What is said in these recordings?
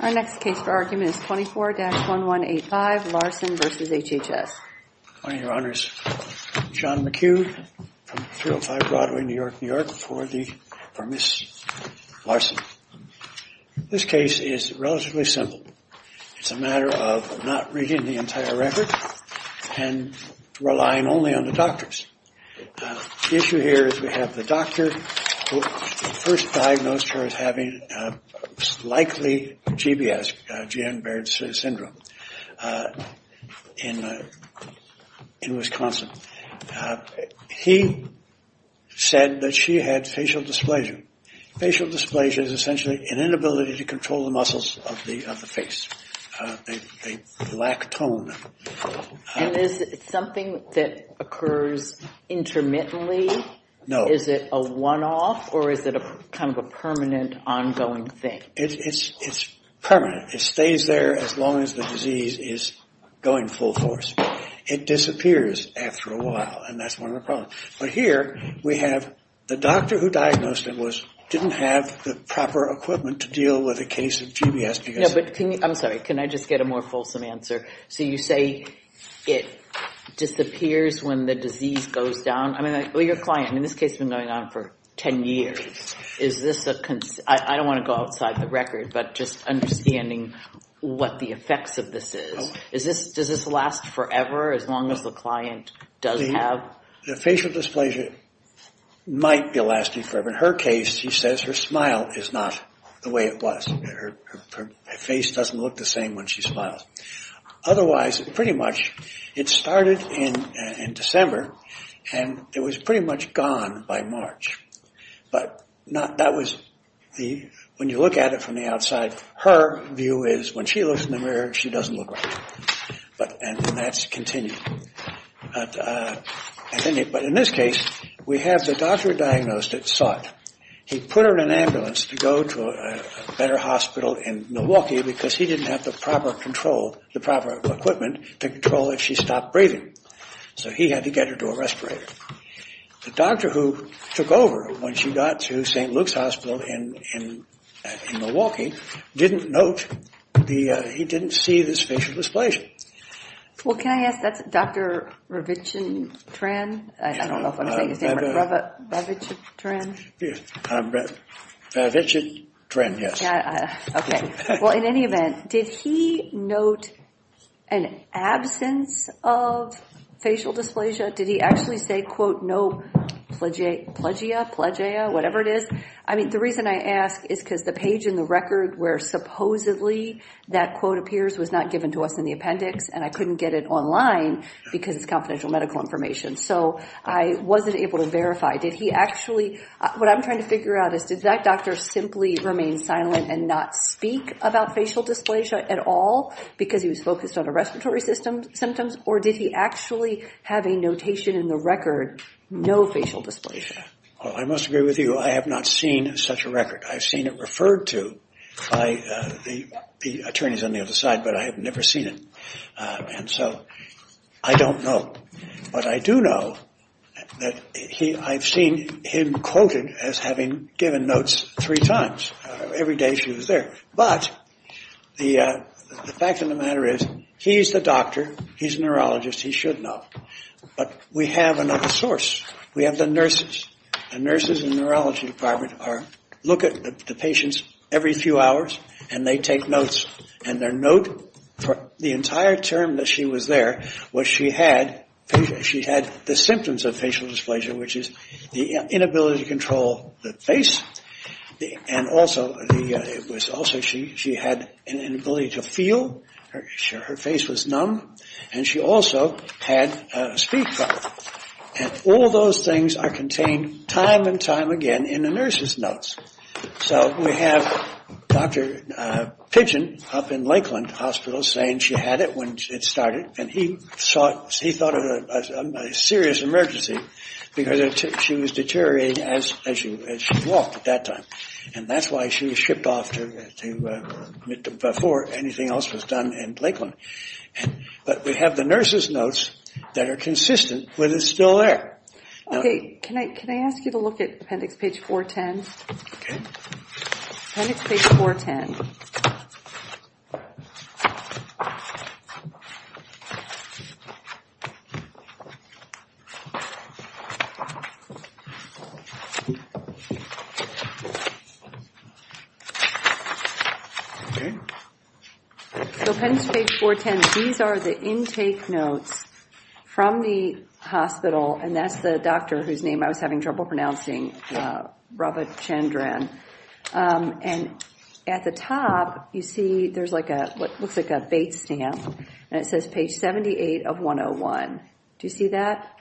Our next case for argument is 24-1185, Larson v. HHS. Good morning, Your Honors. John McHugh from 305 Broadway, New York, New York for Ms. Larson. This case is relatively simple. It's a matter of not reading the entire record and relying only on the doctors. The issue here is we have the doctor who first diagnosed her as having likely GBS, G.M. Baird's Syndrome, in Wisconsin. He said that she had facial dysplasia. Facial dysplasia is essentially an inability to control the muscles of the face. They lack tone. And is it something that occurs intermittently? No. Is it a one-off, or is it kind of a permanent, ongoing thing? It's permanent. It stays there as long as the disease is going full force. It disappears after a while, and that's one of the problems. But here we have the doctor who diagnosed her didn't have the proper equipment to deal with a case of GBS. I'm sorry. Can I just get a more fulsome answer? So you say it disappears when the disease goes down? I mean, your client in this case has been going on for 10 years. Is this a – I don't want to go outside the record, but just understanding what the effects of this is. Does this last forever as long as the client does have – The facial dysplasia might be lasting forever. In her case, she says her smile is not the way it was. Her face doesn't look the same when she smiles. Otherwise, pretty much, it started in December, and it was pretty much gone by March. But that was the – when you look at it from the outside, her view is when she looks in the mirror, she doesn't look right. And that's continued. But in this case, we have the doctor diagnosed that saw it. He put her in an ambulance to go to a better hospital in Milwaukee because he didn't have the proper control – the proper equipment to control if she stopped breathing. So he had to get her to a respirator. The doctor who took over when she got to St. Luke's Hospital in Milwaukee didn't note the – he didn't see this facial dysplasia. Well, can I ask – that's Dr. Ravichandran? I don't know if I'm saying his name right. Ravichandran? Ravichandran, yes. Okay. Well, in any event, did he note an absence of facial dysplasia? Did he actually say, quote, no plagia, plagia, whatever it is? I mean, the reason I ask is because the page in the record where supposedly that quote appears was not given to us in the appendix, and I couldn't get it online because it's confidential medical information. So I wasn't able to verify. Did he actually – what I'm trying to figure out is, did that doctor simply remain silent and not speak about facial dysplasia at all because he was focused on the respiratory symptoms, or did he actually have a notation in the record, no facial dysplasia? Well, I must agree with you. I have not seen such a record. I've seen it referred to by the attorneys on the other side, but I have never seen it. And so I don't know. But I do know that I've seen him quoted as having given notes three times. Every day she was there. But the fact of the matter is he's the doctor, he's a neurologist, he should know. But we have another source. We have the nurses. The nurses in the neurology department look at the patients every few hours, and they take notes. And their note for the entire term that she was there was she had the symptoms of facial dysplasia, which is the inability to control the face, and also she had an inability to feel. Her face was numb. And she also had a speech problem. And all those things are contained time and time again in the nurse's notes. So we have Dr. Pidgeon up in Lakeland Hospital saying she had it when it started, and he thought it was a serious emergency because she was deteriorating as she walked at that time. And that's why she was shipped off before anything else was done in Lakeland. But we have the nurse's notes that are consistent with it still there. Okay, can I ask you to look at appendix page 410? Okay. Appendix page 410. Okay. So appendix page 410, these are the intake notes from the hospital, and that's the doctor whose name I was having trouble pronouncing, Robert Chandran. And at the top you see there's what looks like a Bates stamp, and it says page 78 of 101. Do you see that?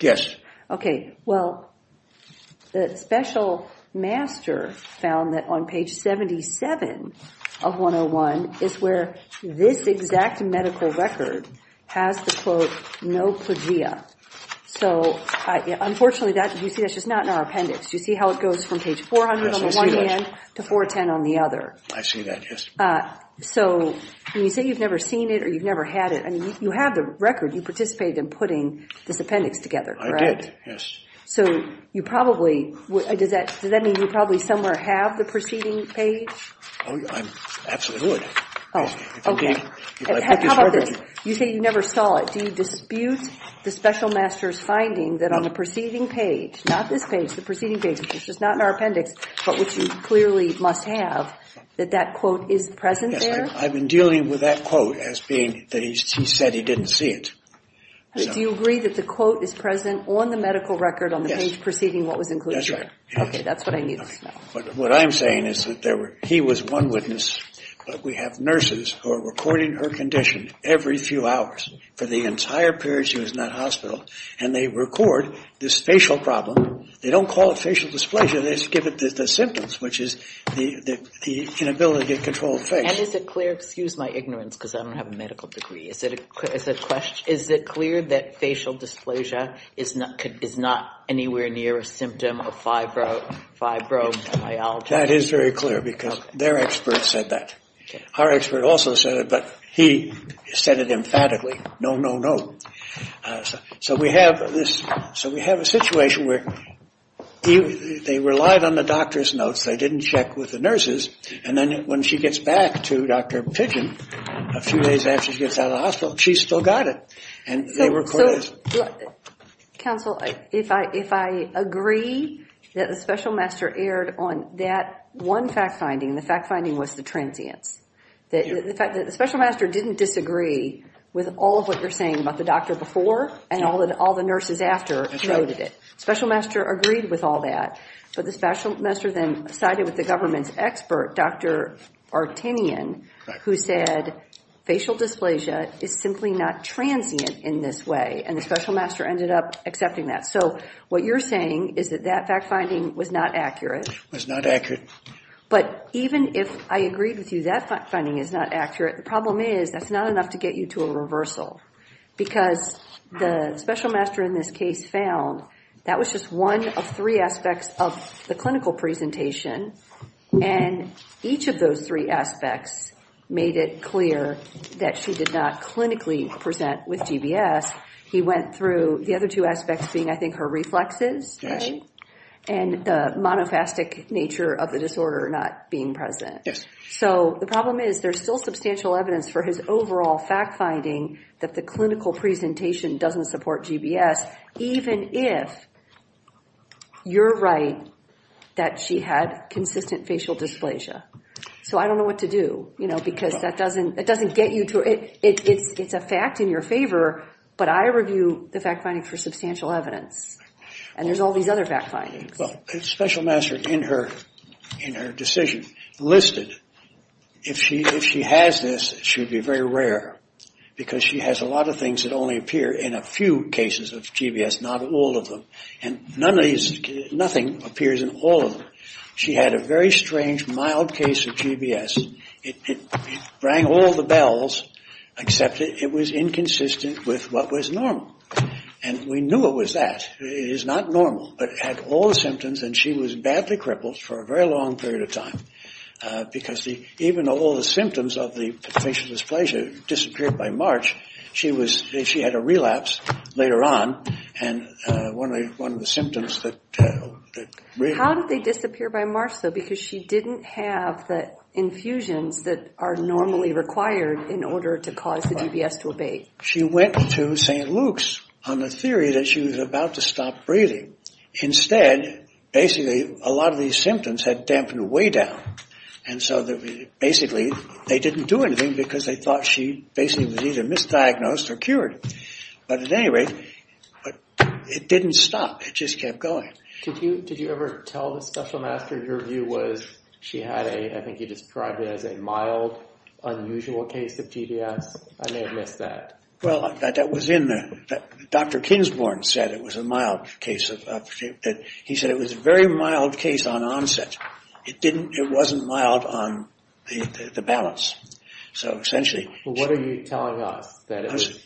Yes. Okay. Well, the special master found that on page 77 of 101 is where this exact medical record has the, quote, So unfortunately, you see that's just not in our appendix. Do you see how it goes from page 400 on the one end to 410 on the other? I see that, yes. So when you say you've never seen it or you've never had it, you have the record, you participated in putting this appendix together, correct? I did, yes. So you probably, does that mean you probably somewhere have the preceding page? Oh, I absolutely would. Oh, okay. How about this? You say you never saw it. Do you dispute the special master's finding that on the preceding page, not this page, the preceding page, which is not in our appendix, but which you clearly must have, that that quote is present there? Yes, I've been dealing with that quote as being that he said he didn't see it. Do you agree that the quote is present on the medical record on the page preceding what was included? Yes, that's right. Okay, that's what I knew. What I'm saying is that he was one witness, but we have nurses who are recording her condition every few hours for the entire period she was in that hospital, and they record this facial problem. They don't call it facial dysplasia, they just give it the symptoms, which is the inability to get control of the face. And is it clear, excuse my ignorance because I don't have a medical degree, is it clear that facial dysplasia is not anywhere near a symptom of fibromyalgia? That is very clear because their expert said that. Our expert also said it, but he said it emphatically, no, no, no. So we have a situation where they relied on the doctor's notes, they didn't check with the nurses, and then when she gets back to Dr. Pidgeon a few days after she gets out of the hospital, she's still got it. And they record it. Counsel, if I agree that the special master erred on that one fact finding, the fact finding was the transience. The fact that the special master didn't disagree with all of what you're saying about the doctor before and all the nurses after noted it. Special master agreed with all that, but the special master then sided with the government's expert, Dr. Artinian, who said facial dysplasia is simply not transient in this way, and the special master ended up accepting that. So what you're saying is that that fact finding was not accurate. It was not accurate. But even if I agreed with you that fact finding is not accurate, the problem is that's not enough to get you to a reversal because the special master in this case found that was just one of three aspects of the clinical presentation, and each of those three aspects made it clear that she did not clinically present with GBS. He went through the other two aspects being, I think, her reflexes and the monophastic nature of the disorder not being present. Yes. So the problem is there's still substantial evidence for his overall fact finding that the clinical presentation doesn't support GBS, even if you're right that she had consistent facial dysplasia. So I don't know what to do, you know, because that doesn't get you to it. It's a fact in your favor, but I review the fact finding for substantial evidence, and there's all these other fact findings. Well, the special master in her decision listed if she has this, it should be very rare because she has a lot of things that only appear in a few cases of GBS, not all of them, and nothing appears in all of them. She had a very strange, mild case of GBS. It rang all the bells except it was inconsistent with what was normal, and we knew it was that. It is not normal, but it had all the symptoms, and she was badly crippled for a very long period of time because even though all the symptoms of the facial dysplasia disappeared by March, she had a relapse later on, and one of the symptoms that really... How did they disappear by March, though? Because she didn't have the infusions that are normally required in order to cause the GBS to abate. She went to St. Luke's on the theory that she was about to stop breathing. Instead, basically, a lot of these symptoms had dampened way down, and so basically they didn't do anything because they thought she basically was either misdiagnosed or cured, but at any rate, it didn't stop. It just kept going. Did you ever tell the special master your view was she had a... I think you described it as a mild, unusual case of GBS. I may have missed that. Well, that was in the... Dr. Kingsborn said it was a mild case of... He said it was a very mild case on onset. It didn't... It wasn't mild on the balance, so essentially... Well, what are you telling us? Because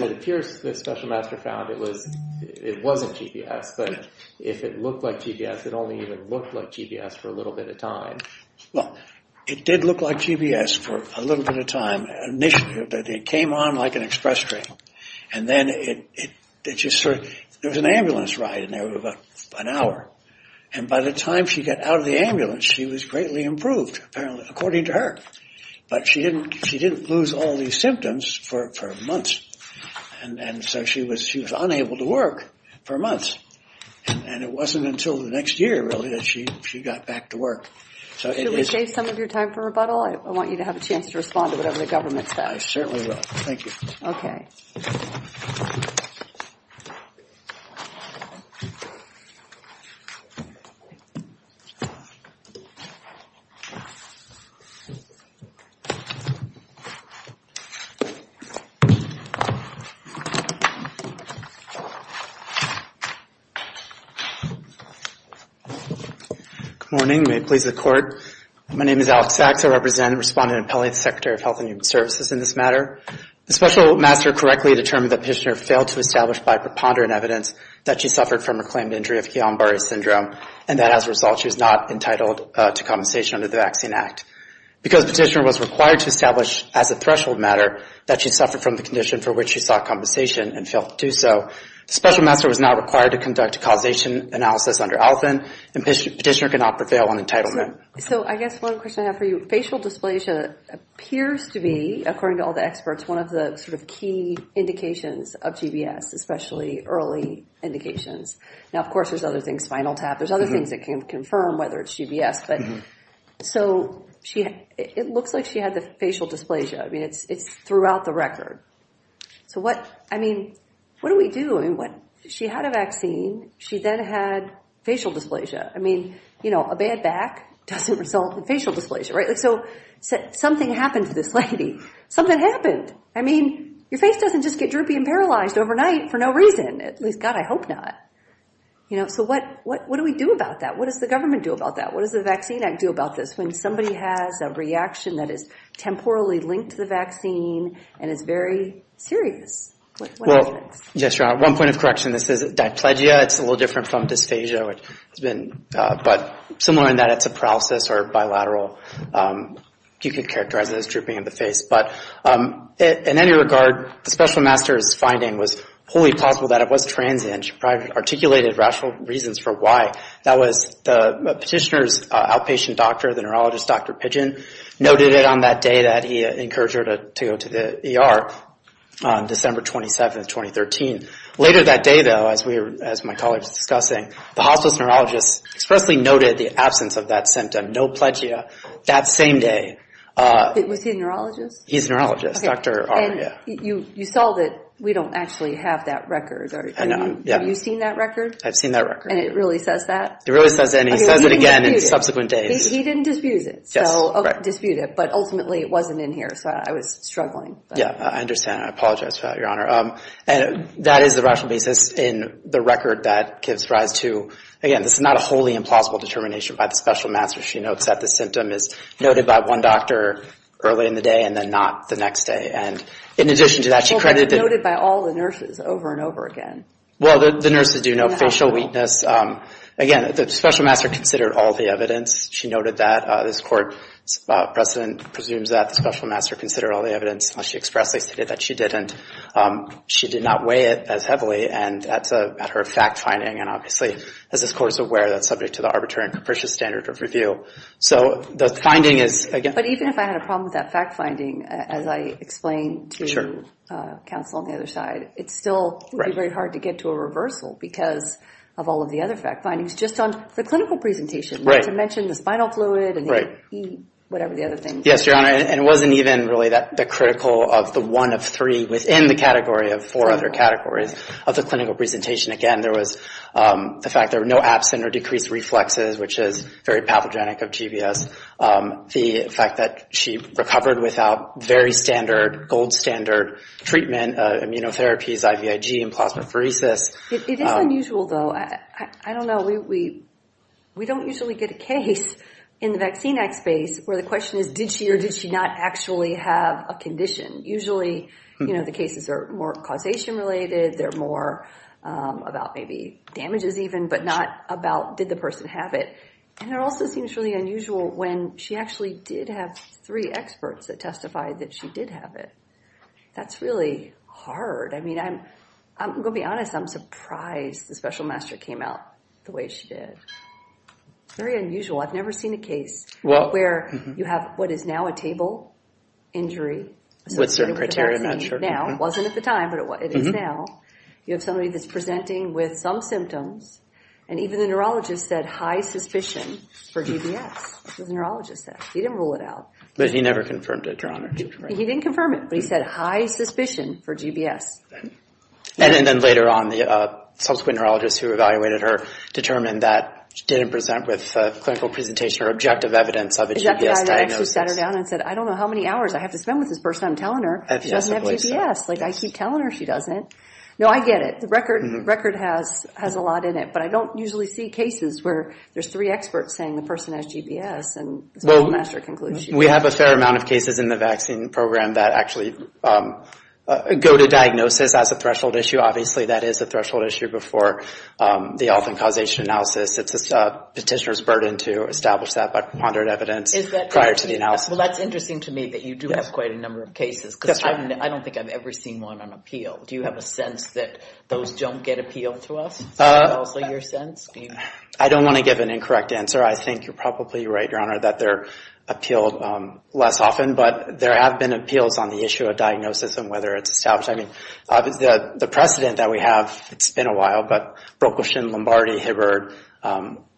it appears the special master found it was... It wasn't GBS, but if it looked like GBS, it only even looked like GBS for a little bit of time. Well, it did look like GBS for a little bit of time. It came on like an express train, and then it just sort of... There was an ambulance ride, and they were about an hour, and by the time she got out of the ambulance, she was greatly improved, apparently, according to her, but she didn't lose all these symptoms for months, and so she was unable to work for months, and it wasn't until the next year, really, that she got back to work. Should we save some of your time for rebuttal? I want you to have a chance to respond to whatever the government says. I certainly will. Thank you. Okay. Good morning. May it please the Court. My name is Alex Sachs. I represent and respond to an appellee, the Secretary of Health and Human Services, in this matter. The special master correctly determined that Petitioner failed to establish by preponderant evidence that she suffered from a claimed injury of Guillain-Barre syndrome, and that as a result she was not entitled to compensation under the Vaccine Act. Because Petitioner was required to establish as a threshold matter that she suffered from the condition for which she sought compensation and failed to do so, the special master was not required to conduct a causation analysis under Alvin, and Petitioner could not prevail on entitlement. So I guess one question I have for you. Facial dysplasia appears to be, according to all the experts, one of the sort of key indications of GBS, especially early indications. Now, of course, there's other things, spinal tap. There's other things that can confirm whether it's GBS. But so it looks like she had the facial dysplasia. I mean, it's throughout the record. So what, I mean, what do we do? I mean, she had a vaccine. She then had facial dysplasia. I mean, you know, a bad back doesn't result in facial dysplasia, right? So something happened to this lady. Something happened. I mean, your face doesn't just get droopy and paralyzed overnight for no reason. At least, God, I hope not. You know, so what do we do about that? What does the government do about that? What does the Vaccine Act do about this when somebody has a reaction that is temporally linked to the vaccine and is very serious? Well, yes, Your Honor, one point of correction. This is diplegia. It's a little different from dysphagia. But similar in that it's a paralysis or bilateral. You could characterize it as drooping of the face. But in any regard, the special master's finding was wholly plausible that it was transient. She probably articulated rational reasons for why. That was the petitioner's outpatient doctor, the neurologist, Dr. Pidgeon, noted it on that day that he encouraged her to go to the ER on December 27th, 2013. Later that day, though, as my colleague was discussing, the hospice neurologist expressly noted the absence of that symptom, noplegia, that same day. Was he a neurologist? He's a neurologist. And you saw that we don't actually have that record. Have you seen that record? I've seen that record. And it really says that? It really says that. And he says it again in subsequent days. He didn't dispute it, but ultimately it wasn't in here, so I was struggling. Yeah, I understand. I apologize for that, Your Honor. And that is the rational basis in the record that gives rise to, again, this is not a wholly implausible determination by the special master. She notes that the symptom is noted by one doctor early in the day and then not the next day. And in addition to that, she credited the – Well, but it's noted by all the nurses over and over again. Well, the nurses do know facial weakness. Again, the special master considered all the evidence. She noted that this court precedent presumes that the special master considered all the evidence, unless she expressly stated that she didn't. She did not weigh it as heavily. And that's a matter of fact-finding. And obviously, as this court is aware, that's subject to the arbitrary and capricious standard of review. So the finding is – But even if I had a problem with that fact-finding, as I explained to counsel on the other side, it still would be very hard to get to a reversal because of all of the other fact-findings. Just on the clinical presentation, you had to mention the spinal fluid and whatever the other things. Yes, Your Honor. And it wasn't even really the critical of the one of three within the category of four other categories of the clinical presentation. Again, there was the fact there were no absent or decreased reflexes, which is very pathogenic of GBS. The fact that she recovered without very standard, gold standard treatment, immunotherapies, IVIG, and plasmapheresis. It is unusual, though. I don't know. We don't usually get a case in the vaccine act space where the question is, did she or did she not actually have a condition? Usually, you know, the cases are more causation-related. They're more about maybe damages even, but not about did the person have it. And it also seems really unusual when she actually did have three experts that testified that she did have it. That's really hard. I'm going to be honest. I'm surprised the special master came out the way she did. Very unusual. I've never seen a case where you have what is now a table injury. With certain criteria, I'm not sure. It wasn't at the time, but it is now. You have somebody that's presenting with some symptoms, and even the neurologist said high suspicion for GBS. That's what the neurologist said. He didn't rule it out. But he never confirmed it, Your Honor. He didn't confirm it, but he said high suspicion for GBS. And then later on, the subsequent neurologist who evaluated her determined that she didn't present with clinical presentation or objective evidence of a GBS diagnosis. I actually sat her down and said, I don't know how many hours I have to spend with this person. I'm telling her she doesn't have GBS. Like, I keep telling her she doesn't. No, I get it. The record has a lot in it, but I don't usually see cases where there's three experts saying the person has GBS and the special master concludes she doesn't. We have a fair amount of cases in the vaccine program that actually go to diagnosis as a threshold issue. Obviously, that is a threshold issue before the often-causation analysis. It's a petitioner's burden to establish that by pondered evidence prior to the analysis. Well, that's interesting to me that you do have quite a number of cases, because I don't think I've ever seen one on appeal. Do you have a sense that those don't get appealed to us? Is that also your sense? I don't want to give an incorrect answer. I think you're probably right, Your Honor, that they're appealed less often, but there have been appeals on the issue of diagnosis and whether it's established. I mean, the precedent that we have, it's been a while, but Brokelson, Lombardi, Hibbard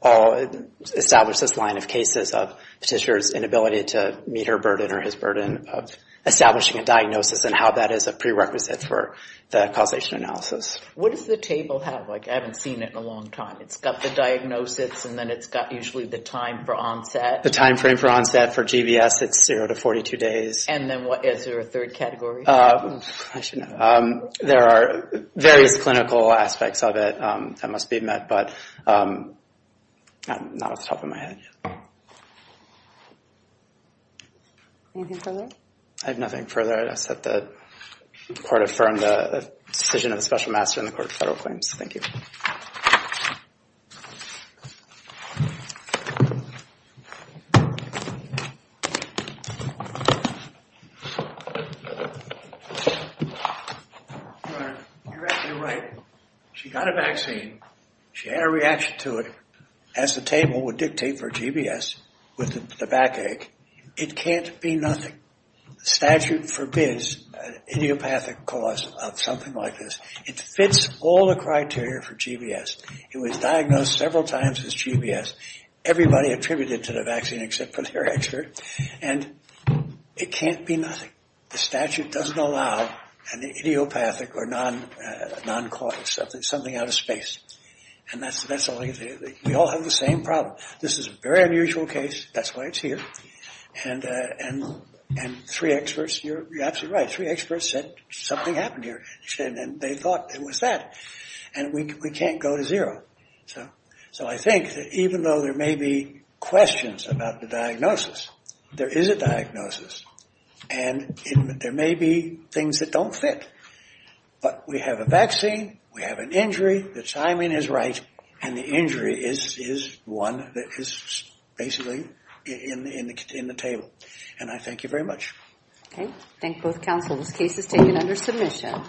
all established this line of cases of petitioner's inability to meet her burden or his burden of establishing a diagnosis and how that is a prerequisite for the causation analysis. What does the table have? Like, I haven't seen it in a long time. It's got the diagnosis, and then it's got usually the time for onset. The time frame for onset for GBS, it's zero to 42 days. And then what? Is there a third category? I should know. There are various clinical aspects of it that must be met, but I'm not off the top of my head yet. Anything further? I have nothing further. All right, I set the court affirmed the decision of the Special Master in the Court of Federal Claims. Thank you. Your Honor, you're absolutely right. She got a vaccine. She had a reaction to it. As the table would dictate for GBS with the backache, it can't be nothing. The statute forbids idiopathic cause of something like this. It fits all the criteria for GBS. It was diagnosed several times as GBS. Everybody attributed to the vaccine except for their expert. And it can't be nothing. The statute doesn't allow an idiopathic or non-cause, something out of space. And we all have the same problem. This is a very unusual case. That's why it's here. And three experts, you're absolutely right, three experts said something happened here. And they thought it was that. And we can't go to zero. So I think that even though there may be questions about the diagnosis, there is a diagnosis. And there may be things that don't fit. But we have a vaccine. We have an injury. The timing is right. And the injury is one that is basically in the table. And I thank you very much. Okay. Thank both counsel. This case is taken under submission.